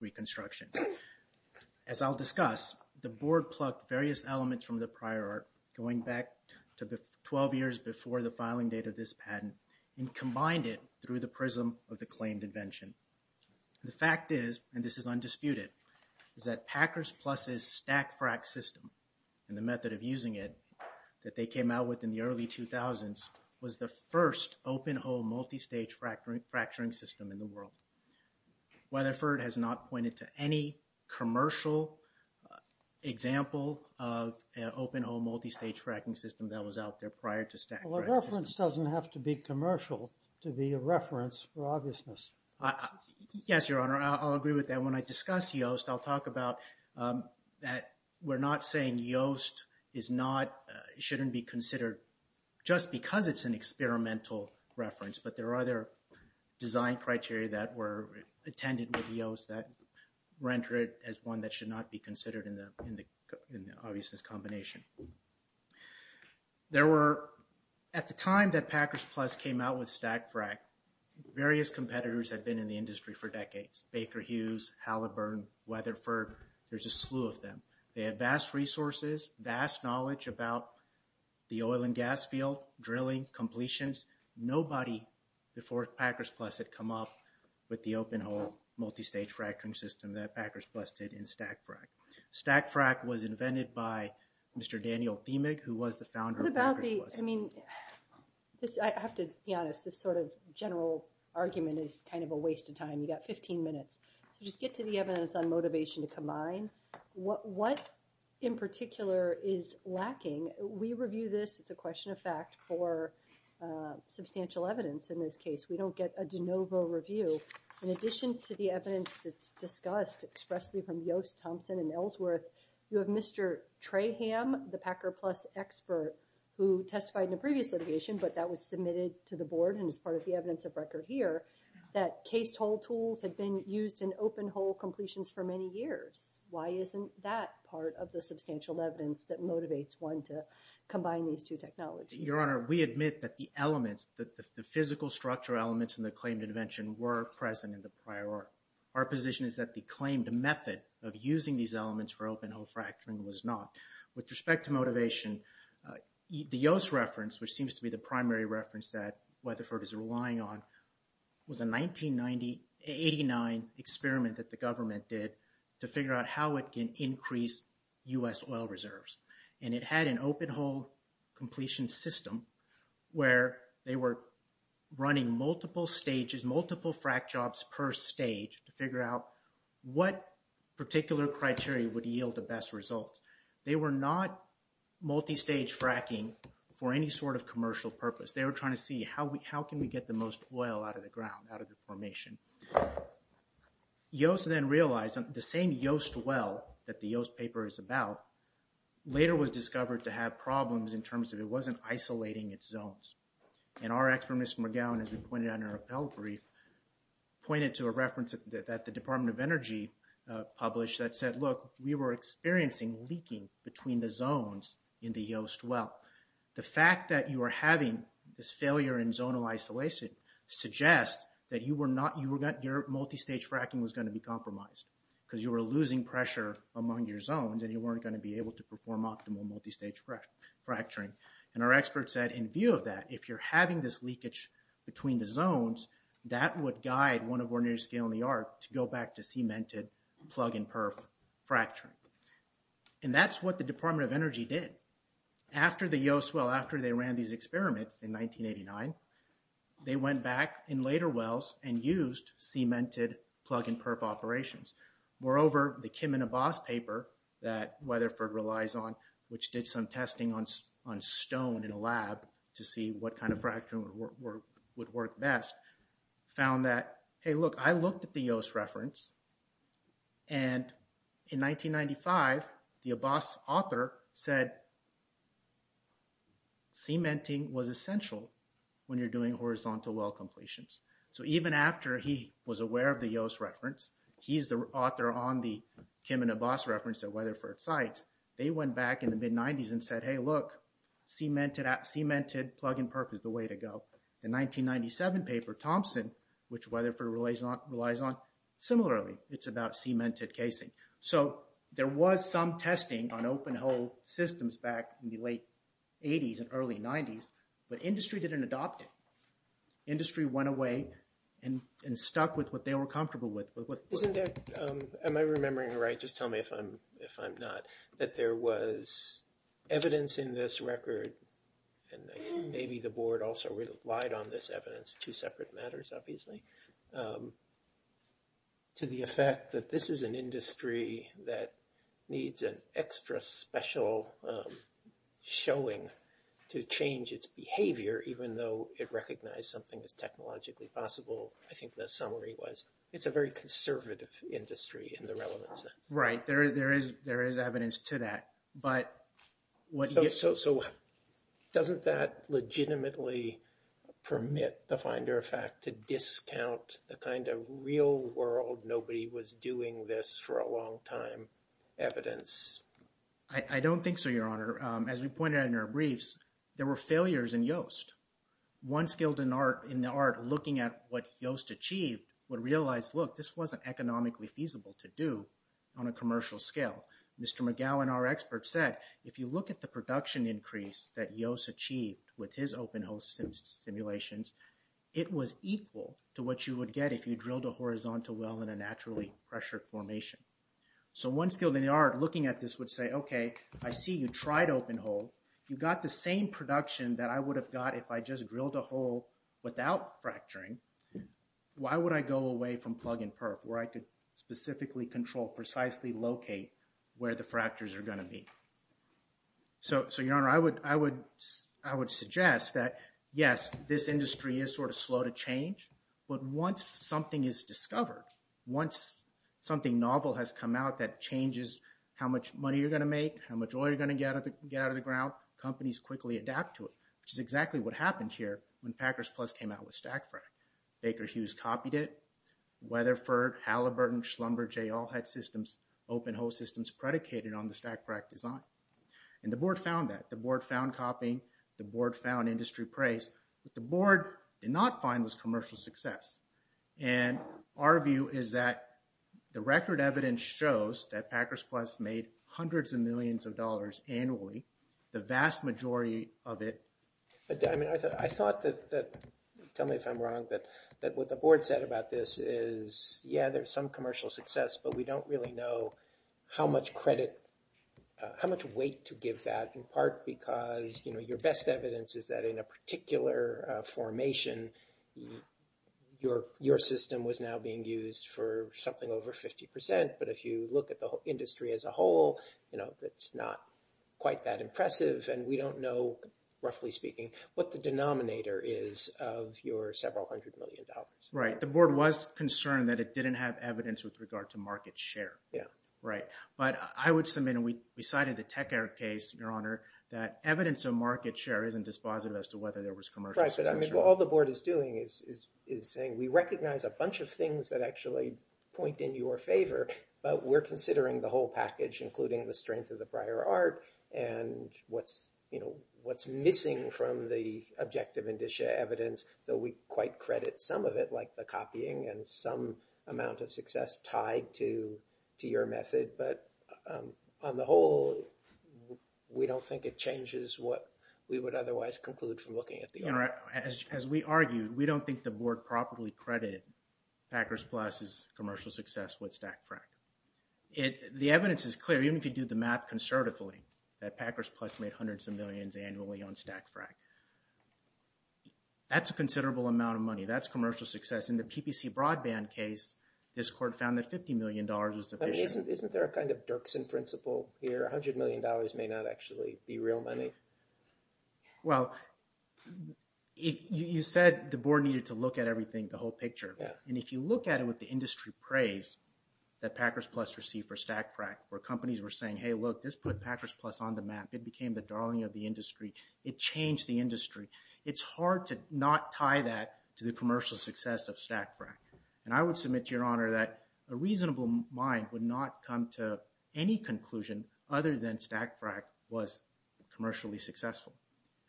reconstruction. As I'll discuss, the board plucked various elements from the prior art going back to the 12 years before the filing date of this patent and combined it through the prism of the claimed invention. The fact is, and this is undisputed, is that Packers Plus' stack frac system and the method of using it that they came out with in the early 2000s was the first open hole multi-stage fracturing system in the world. Weatherford has not pointed to any commercial example of an open hole multi-stage fracking system that was out there prior to stack frac. Well, a reference doesn't have to be commercial to be a reference for obviousness. Yes, Your Honor. I'll agree with that. When I discuss YOST, I'll talk about that we're not saying YOST is not, shouldn't be considered just because it's an experimental reference, but there are other design criteria that were attended with YOST that render it as one that should not be considered in the in the obviousness combination. There were, at the time that Packers Plus came out with stack frac, various competitors have been in the industry for decades. Baker Hughes, Halliburton, Weatherford, there's a slew of them. They have vast resources, vast knowledge about the oil and gas field, drilling, completions. Nobody before Packers Plus had come up with the open hole multi-stage fracturing system that Packers Plus did in stack frac. Stack frac was invented by Mr. Daniel Thiemig, who was the founder of Packers Plus. What about the, I mean, I have to be honest, this sort of general argument is kind of a waste of time. You got 15 minutes, so just get to the evidence on motivation to combine. What in particular is lacking? We review this, it's a question of fact, for substantial evidence in this case. We don't get a de novo review. In addition to the evidence that's discussed expressly from YOST, Thompson, and Ellsworth, you have Mr. Traham, the Packers Plus expert, who testified in a previous litigation, but that was submitted to the board and is part of the evidence of record here, that cased hole tools had been used in open hole completions for many years. Why isn't that part of the substantial evidence that motivates one to combine these two technologies? Your Honor, we admit that the elements, the physical structure elements in the claimed invention were present in the prior order. Our position is that the claimed method of using these elements for open hole fracturing was not. With respect to motivation, the YOST reference, which seems to be the primary reference that Weatherford is relying on, was a 1989 experiment that the government did to figure out how it can increase U.S. oil reserves. And it had an open hole completion system where they were running multiple stages, multiple frac jobs per stage, to figure out what particular criteria would yield the best results. They were not multi-stage fracking for any sort of commercial purpose. They were trying to see how can we get the most oil out of the ground, out of the formation. YOST then realized, the same YOST well that the YOST paper is about, later was discovered to have problems in terms of it wasn't isolating its zones. And our expert, Mr. McGowan, as we pointed out in our appellate brief, pointed to a reference that the Department of Energy published that said, look, we were experiencing leaking between the zones in the YOST well. The fact that you are having this failure in zonal isolation suggests that you were not, your multi-stage fracking was going to be compromised because you were losing pressure among your zones and you weren't going to be able to perform optimal multi-stage fracturing. And our expert said, in view of that, if you're having this leakage between the zones, that would guide one of our new scale in the arc to go back to cemented plug-and-perf fracturing. And that's what the Department of Energy did. After the YOST well, after they ran these experiments in 1989, they went back in later wells and used cemented plug-and-perf operations. Moreover, the Kim and Abbas paper that Weatherford relies on, which did some testing on stone in a lab to see what kind of fracturing would work best, found that, hey, look, I looked at the YOST reference and in 1995, the Abbas author said, cementing was essential when you're doing horizontal well completions. So even after he was aware of the YOST reference, he's the author on the Kim and Abbas reference that Weatherford cites, they went back in the mid-90s and said, hey, look, cemented plug-and-perf is the way to go. The 1997 paper, Thompson, which Weatherford relies on, similarly, it's about cemented casing. So there was some testing on open hole systems back in the late 80s and early 90s, but industry didn't adopt it. Industry went away and stuck with what they were comfortable with. Isn't that, am I remembering right, just tell me if I'm not, that there was evidence in this record, and maybe the board also relied on this evidence, two separate matters, obviously, to the effect that this is an industry that needs an extra special showing to change its behavior, even though it recognized something as technologically possible. I think the summary was it's a very conservative industry in the relevant sense. Right, there is evidence to that. So doesn't that legitimately permit the finder of fact to discount the kind of real world, nobody was doing this for a long time, evidence? I don't think so, Your Honor. As we pointed out in our briefs, there were failures in Yoast. One skilled in the art looking at what Yoast achieved would realize, look, this wasn't economically feasible to do on a commercial scale. Mr. McGowan, our expert, said if you look at the production increase that Yoast achieved with his open-hole simulations, it was equal to what you would get if you drilled a horizontal well in a naturally pressured formation. So one skilled in the art looking at this would say, okay, I see you tried open-hole. You got the same production that I would have got if I just drilled a hole without fracturing. Why would I go away from plug-and-perk where I could specifically control, precisely locate where the fractures are going to be? So, Your Honor, I would suggest that, yes, this industry is sort of slow to change, but once something is discovered, once something novel has come out that changes how much money you're going to make, how much oil you're going to get out of the ground, companies quickly adapt to it, which is exactly what happened here when Packers Plus came out with StackFrack. Baker Hughes copied it. Weatherford, Halliburton, Schlumberger, they all had systems, open-hole systems predicated on the StackFrack design. And the board found that. The board found copying. The board found industry praise. What the board did not find was commercial success. And our view is that the record evidence shows that Packers Plus made hundreds of millions of dollars annually. The vast majority of it— I thought that—tell me if I'm wrong—that what the board said about this is, yeah, there's some commercial success, but we don't really know how much credit, how much weight to give that, in part because your best evidence is that in a particular formation, your system was now being used for something over 50 percent. But if you look at the industry as a whole, it's not quite that impressive, and we don't know, roughly speaking, what the denominator is of your several hundred million dollars. Right. The board was concerned that it didn't have evidence with regard to market share. Yeah. Right. But I would submit, and we cited the TechAir case, Your Honor, that evidence of market share isn't dispositive as to whether there was commercial success. Right. But all the board is doing is saying, we recognize a bunch of things that actually point in your favor, but we're considering the whole package, including the strength of the prior art and what's missing from the objective indicia evidence, though we quite credit some of it, like the copying and some amount of success tied to your method. But on the whole, we don't think it changes what we would otherwise conclude from looking at the art. Your Honor, as we argued, we don't think the board properly credited Packers Plus' commercial success with StackFrack. The evidence is clear, even if you do the math conservatively, that Packers Plus made hundreds of millions annually on StackFrack. That's a considerable amount of money. That's commercial success. In the PPC broadband case, this court found that $50 million was sufficient. Isn't there a kind of Dirksen principle here? $100 million may not actually be real money? Well, you said the board needed to look at everything, the whole picture. And if you look at it with the industry praise that Packers Plus received for StackFrack, where companies were saying, hey, look, this put Packers Plus on the map. It became the darling of the industry. It changed the industry. It's hard to not tie that to the commercial success of StackFrack. And I would submit to Your Honor that a reasonable mind would not come to any conclusion other than StackFrack was commercially successful.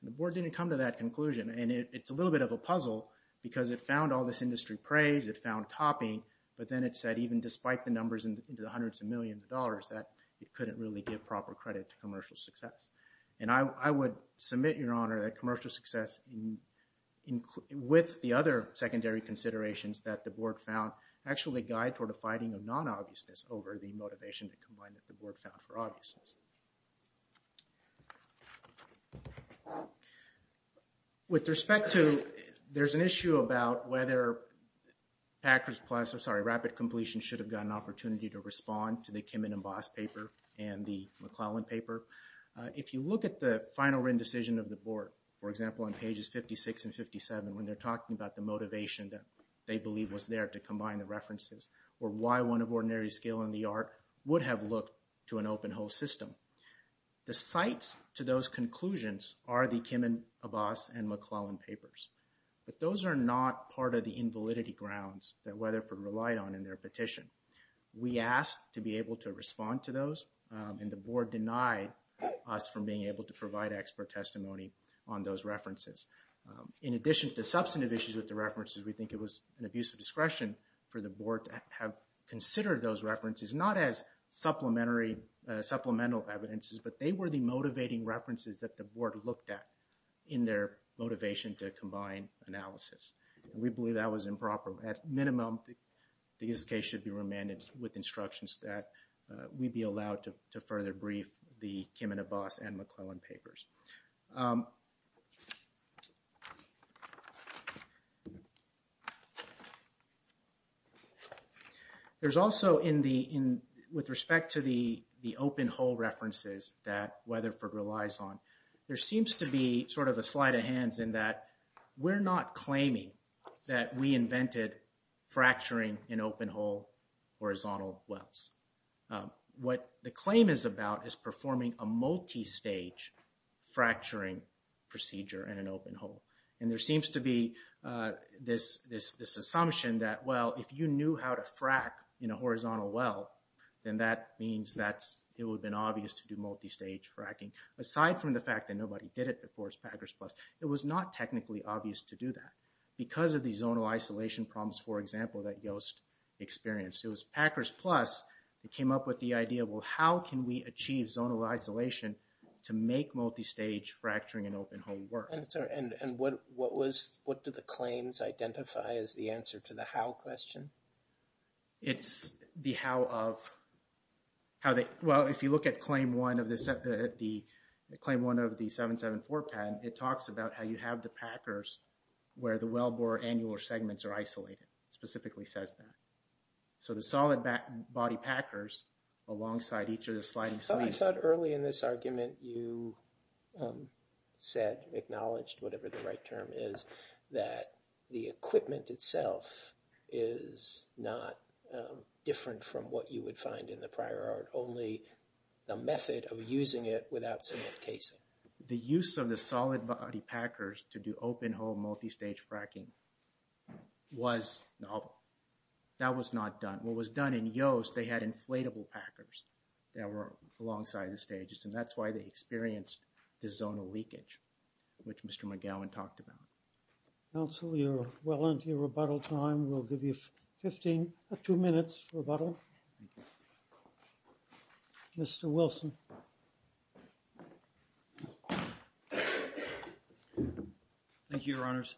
The board didn't come to that conclusion. And it's a little bit of a puzzle because it found all this industry praise. It found copying. But then it said, even despite the numbers into the hundreds of millions of dollars, that it couldn't really give proper credit to commercial success. And I would submit, Your Honor, that commercial success, with the other secondary considerations that the board found, actually guide toward a fighting of non-obviousness over the motivation that the board found for obviousness. With respect to, there's an issue about whether Packers Plus, I'm sorry, Rapid Completion should have gotten an opportunity to respond to the Kim and Emboss paper and the McClellan paper. If you look at the final written decision of the board, for example, on pages 56 and 57, when they're talking about the motivation that they believe was there to combine the references or why one of ordinary skill in the art would have looked to an open whole system. The sites to those conclusions are the Kim and Emboss and McClellan papers. But those are not part of the invalidity grounds that Weatherford relied on in their petition. We asked to be able to respond to those, and the board denied us from being able to provide expert testimony on those references. In addition to the substantive issues with the references, we think it was an abuse of discretion for the board to have considered those references, not as supplemental evidences, but they were the motivating references that the board looked at in their motivation to combine analysis. We believe that was improper. At minimum, this case should be remanded with instructions that we'd be allowed to further brief the Kim and Emboss and McClellan papers. There's also, with respect to the open whole references that Weatherford relies on, there seems to be sort of a sleight of hands in that we're not claiming that we invented fracturing in open whole horizontal wells. What the claim is about is performing a multistage fracturing procedure in an open whole. And there seems to be this assumption that, well, if you knew how to frack in a horizontal well, then that means that it would have been obvious to do multistage fracking. Aside from the fact that nobody did it before as Packers Plus, it was not technically obvious to do that. Because of the zonal isolation problems, for example, that Yost experienced. It was Packers Plus that came up with the idea, well, how can we achieve zonal isolation to make multistage fracturing in open whole work? And what do the claims identify as the answer to the how question? It's the how of how they – well, if you look at Claim 1 of the 774 patent, it talks about how you have the Packers where the wellbore annular segments are isolated. It specifically says that. So the solid body Packers alongside each of the sliding sleeves – I thought early in this argument you said, acknowledged, whatever the right term is, that the equipment itself is not different from what you would find in the prior art, only the method of using it without cement casing. The use of the solid body Packers to do open whole multistage fracking was novel. That was not done. What was done in Yost, they had inflatable Packers that were alongside the stages, and that's why they experienced the zonal leakage, which Mr. McGowan talked about. Council, we are well into your rebuttal time. We'll give you two minutes rebuttal. Thank you. Mr. Wilson. Thank you, Your Honors.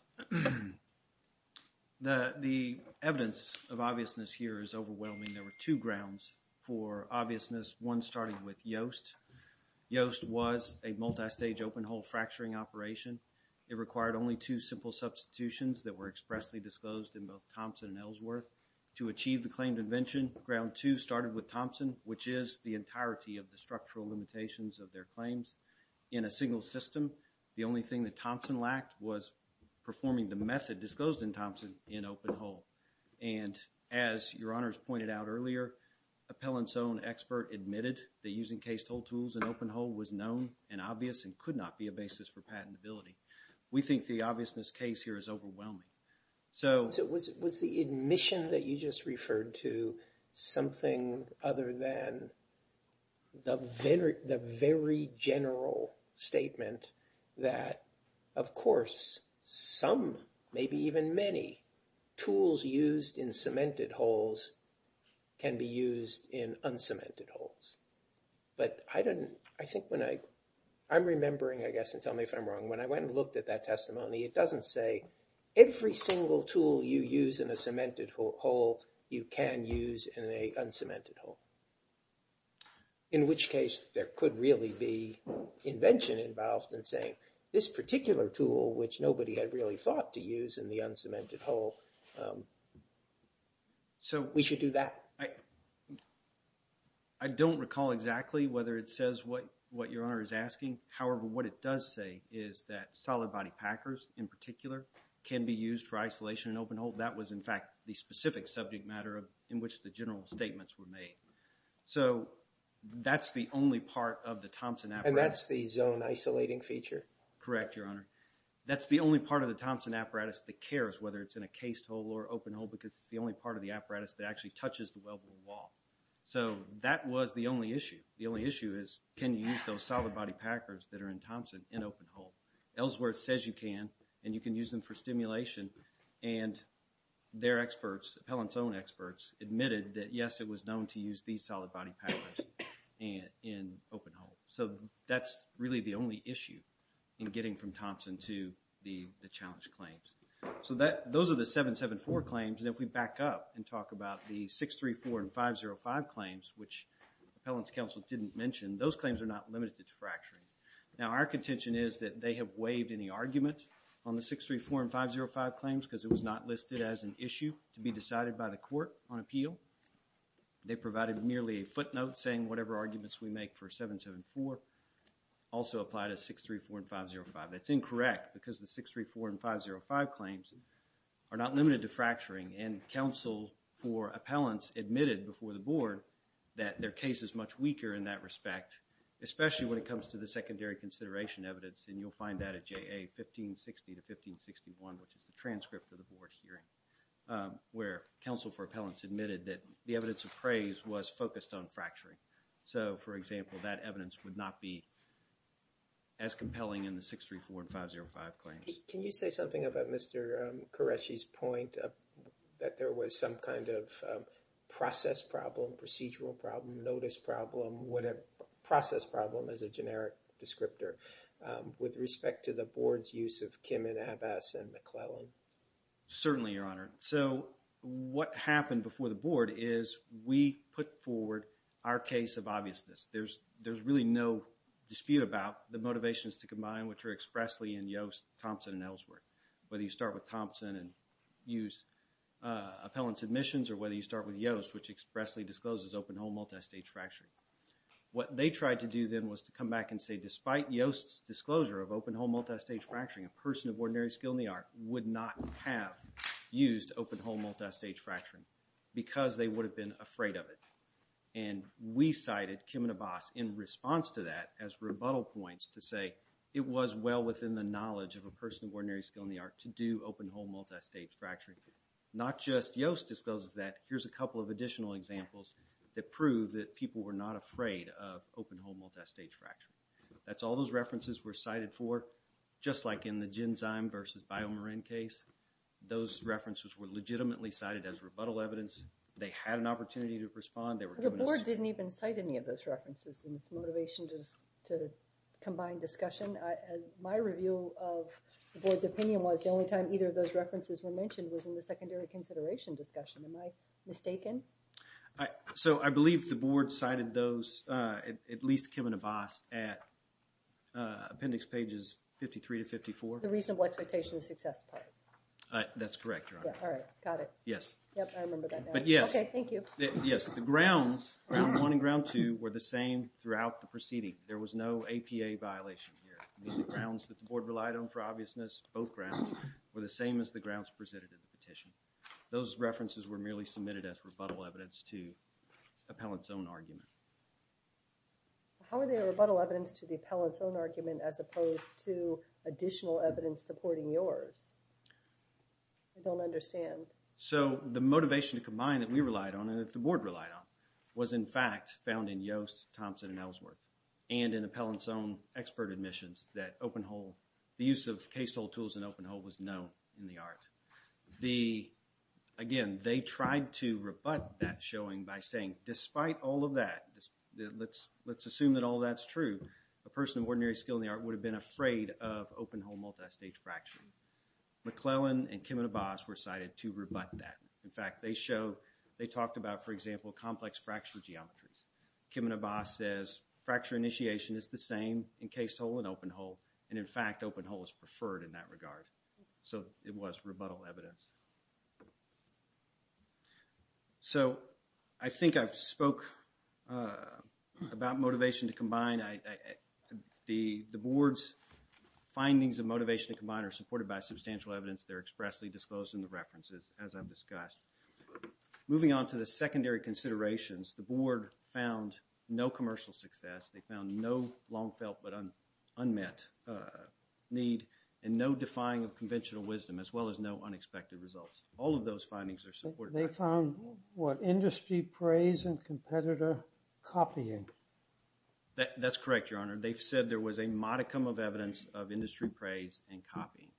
The evidence of obviousness here is overwhelming. There were two grounds for obviousness, one starting with Yost. Yost was a multistage open whole fracturing operation. It required only two simple substitutions that were expressly disclosed in both Thompson and Ellsworth. To achieve the claimed invention, ground two started with Thompson, which is the entirety of the structural limitations of their claims. In a single system, the only thing that Thompson lacked was performing the method disclosed in Thompson in open whole. And as Your Honors pointed out earlier, Appellant's own expert admitted that using case-told tools in open whole was known and obvious and could not be a basis for patentability. We think the obviousness case here is overwhelming. So was the admission that you just referred to something other than the very general statement that, of course, some, maybe even many, tools used in cemented holes can be used in uncemented holes? But I think when I'm remembering, I guess, and tell me if I'm wrong, when I went and looked at that testimony, it doesn't say, every single tool you use in a cemented hole, you can use in an uncemented hole. In which case, there could really be invention involved in saying, this particular tool, which nobody had really thought to use in the uncemented hole, we should do that. I don't recall exactly whether it says what Your Honor is asking. However, what it does say is that solid body packers, in particular, can be used for isolation in open hole. That was, in fact, the specific subject matter in which the general statements were made. So that's the only part of the Thompson apparatus. And that's the zone isolating feature? Correct, Your Honor. That's the only part of the Thompson apparatus that cares, whether it's in a cased hole or open hole, because it's the only part of the apparatus that actually touches the weldable wall. So that was the only issue. The only issue is, can you use those solid body packers that are in Thompson in open hole? Ellsworth says you can, and you can use them for stimulation. And their experts, Appellant's own experts, admitted that, yes, it was known to use these solid body packers in open hole. So that's really the only issue in getting from Thompson to the challenge claims. So those are the 774 claims. And if we back up and talk about the 634 and 505 claims, which Appellant's counsel didn't mention, those claims are not limited to fracturing. Now, our contention is that they have waived any argument on the 634 and 505 claims because it was not listed as an issue to be decided by the court on appeal. They provided merely a footnote saying whatever arguments we make for 774 also apply to 634 and 505. That's incorrect because the 634 and 505 claims are not limited to fracturing, and counsel for Appellant's admitted before the board that their case is much weaker in that respect, especially when it comes to the secondary consideration evidence, and you'll find that at JA 1560 to 1561, which is the transcript of the board hearing, where counsel for Appellant's admitted that the evidence of praise was focused on fracturing. So, for example, that evidence would not be as compelling in the 634 and 505 claims. Can you say something about Mr. Qureshi's point that there was some kind of process problem, procedural problem, notice problem, whatever, process problem as a generic descriptor, with respect to the board's use of Kim and Abbas and McClellan? Certainly, Your Honor. So what happened before the board is we put forward our case of obviousness. There's really no dispute about the motivations to combine, which are expressly in Yost, Thompson, and Ellsworth, whether you start with Thompson and use Appellant's admissions or whether you start with Yost, which expressly discloses open-hole multistage fracturing. What they tried to do then was to come back and say, despite Yost's disclosure of open-hole multistage fracturing, a person of ordinary skill in the art would not have used open-hole multistage fracturing because they would have been afraid of it. And we cited Kim and Abbas in response to that as rebuttal points to say, it was well within the knowledge of a person of ordinary skill in the art to do open-hole multistage fracturing. Not just Yost discloses that. Here's a couple of additional examples that prove that people were not afraid of open-hole multistage fracturing. That's all those references were cited for. Just like in the Genzyme versus BioMarin case, those references were legitimately cited as rebuttal evidence. They had an opportunity to respond. The board didn't even cite any of those references in its motivation to combine discussion. My review of the board's opinion was the only time either of those references were mentioned was in the secondary consideration discussion. Am I mistaken? So I believe the board cited those, at least Kim and Abbas, at appendix pages 53 to 54. The reasonable expectation of success part. That's correct, Your Honor. All right. Got it. Yes. Yep, I remember that now. But yes. Okay, thank you. Yes, the grounds, ground one and ground two, were the same throughout the proceeding. There was no APA violation here. The grounds that the board relied on for obviousness, both grounds, were the same as the grounds presented in the petition. Those references were merely submitted as rebuttal evidence to the appellant's own argument. How are they rebuttal evidence to the appellant's own argument as opposed to additional evidence supporting yours? I don't understand. So the motivation to combine that we relied on and that the board relied on was, in fact, found in Yost, Thompson, and Ellsworth and in the appellant's own expert admissions that open hole, the use of case hole tools in open hole was known in the art. Again, they tried to rebut that showing by saying, despite all of that, let's assume that all that's true, a person of ordinary skill in the art would have been afraid of open hole multistage fracturing. McClellan and Kim and Abbas were cited to rebut that. In fact, they showed, they talked about, for example, complex fracture geometries. Kim and Abbas says fracture initiation is the same in case hole and open hole, and in fact, open hole is preferred in that regard. So it was rebuttal evidence. So I think I've spoke about motivation to combine. The board's findings of motivation to combine are supported by substantial evidence. They're expressly disclosed in the references, as I've discussed. Moving on to the secondary considerations, the board found no commercial success. They found no long felt but unmet need and no defying of conventional wisdom, as well as no unexpected results. All of those findings are supported. They found what, industry praise and competitor copying. That's correct, Your Honor. They've said there was a modicum of evidence of industry praise and copying,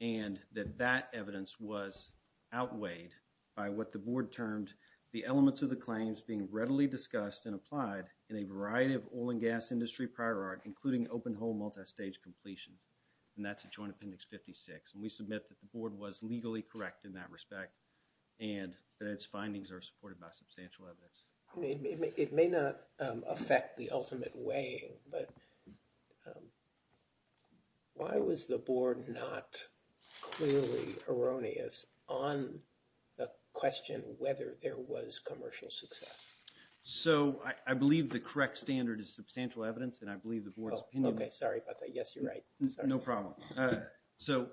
and that that evidence was outweighed by what the board termed the elements of the claims being readily discussed and applied in a variety of oil and gas industry prior art, including open hole multistage completion. And that's a Joint Appendix 56. And we submit that the board was legally correct in that respect and that its findings are supported by substantial evidence. It may not affect the ultimate weighing, but why was the board not clearly erroneous on the question whether there was commercial success? So, I believe the correct standard is substantial evidence, and I believe the board's opinion. Okay, sorry about that. Yes, you're right. No problem. So,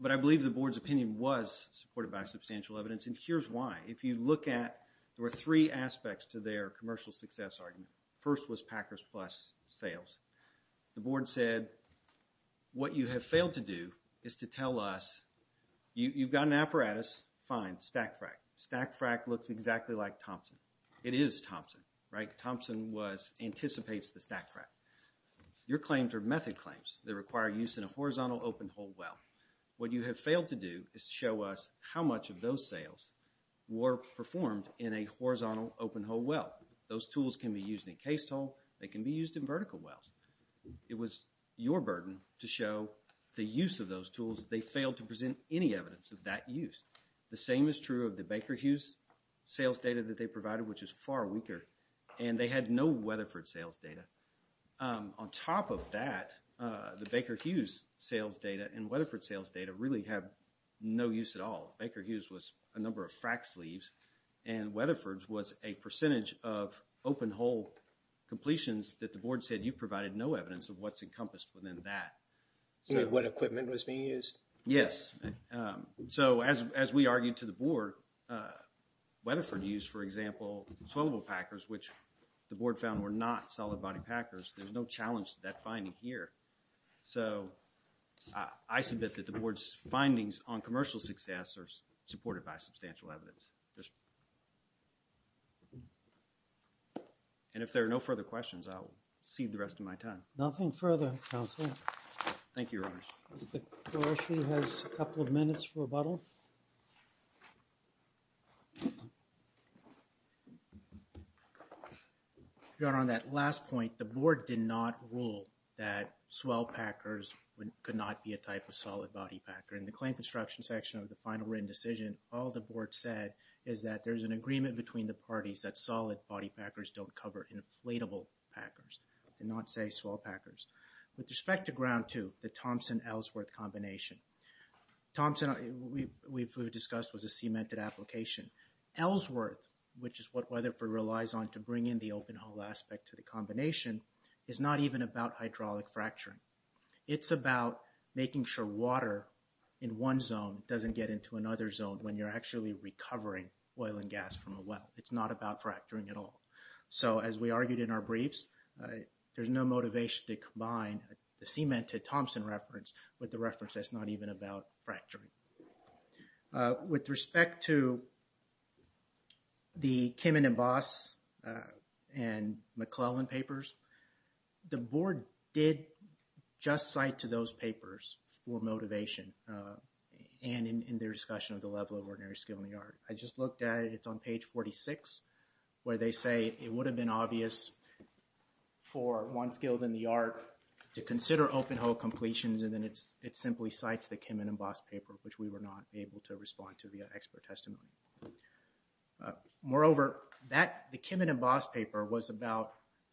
but I believe the board's opinion was supported by substantial evidence, and here's why. If you look at, there were three aspects to their commercial success argument. First was Packers Plus sales. The board said, what you have failed to do is to tell us, you've got an apparatus, fine, stack frack. Stack frack looks exactly like Thompson. It is Thompson, right? Thompson anticipates the stack frack. Your claims are method claims that require use in a horizontal open hole well. What you have failed to do is show us how much of those sales were performed in a horizontal open hole well. Those tools can be used in case toll. They can be used in vertical wells. It was your burden to show the use of those tools. They failed to present any evidence of that use. The same is true of the Baker Hughes sales data that they provided, which is far weaker, and they had no Weatherford sales data. On top of that, the Baker Hughes sales data and Weatherford sales data really have no use at all. Baker Hughes was a number of frack sleeves, and Weatherford was a percentage of open hole completions that the board said you provided no evidence of what's encompassed within that. You mean what equipment was being used? Yes. So as we argued to the board, Weatherford used, for example, swillable packers, which the board found were not solid body packers. There's no challenge to that finding here. So I submit that the board's findings on commercial success are supported by substantial evidence. And if there are no further questions, I'll cede the rest of my time. Thank you, Your Honors. Karoshi has a couple of minutes for rebuttal. Your Honor, on that last point, the board did not rule that swill packers could not be a type of solid body packer. In the claim construction section of the final written decision, all the board said is that there's an agreement between the parties that solid body packers don't cover inflatable packers, and not say swill packers. With respect to ground two, the Thompson-Ellsworth combination, Thompson, we've discussed, was a cemented application. Ellsworth, which is what Weatherford relies on to bring in the open hole aspect to the combination, is not even about hydraulic fracturing. It's about making sure water in one zone doesn't get into another zone when you're actually recovering oil and gas from a well. It's not about fracturing at all. So, as we argued in our briefs, there's no motivation to combine the cemented Thompson reference with the reference that's not even about fracturing. With respect to the Kimmon and Boss and McClellan papers, the board did just cite to those papers for motivation, and in their discussion of the level of ordinary skill in the art. I just looked at it, it's on page 46, where they say it would have been obvious for one skilled in the art to consider open hole completions, and then it simply cites the Kimmon and Boss paper, which we were not able to respond to via expert testimony. Moreover, the Kimmon and Boss paper was about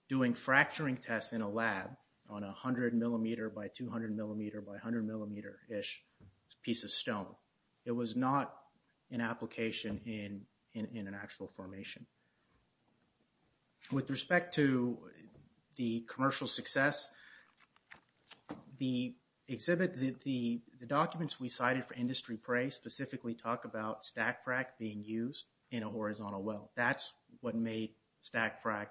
doing fracturing tests in a lab on a 100 millimeter by 200 millimeter by 100 millimeter-ish piece of stone. It was not an application in an actual formation. With respect to the commercial success, the exhibit, the documents we cited for industry praise specifically talk about stack frack being used in a horizontal well. That's what made stack frack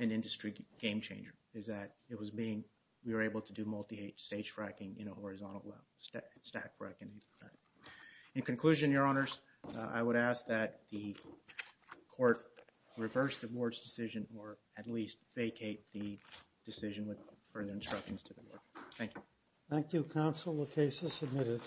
an industry game changer, is that it was being, we were able to do multi-stage fracking in a horizontal well, stack fracking. In conclusion, your honors, I would ask that the court reverse the board's decision or at least vacate the decision with further instructions to the board. Thank you. Thank you, counsel. The case is submitted.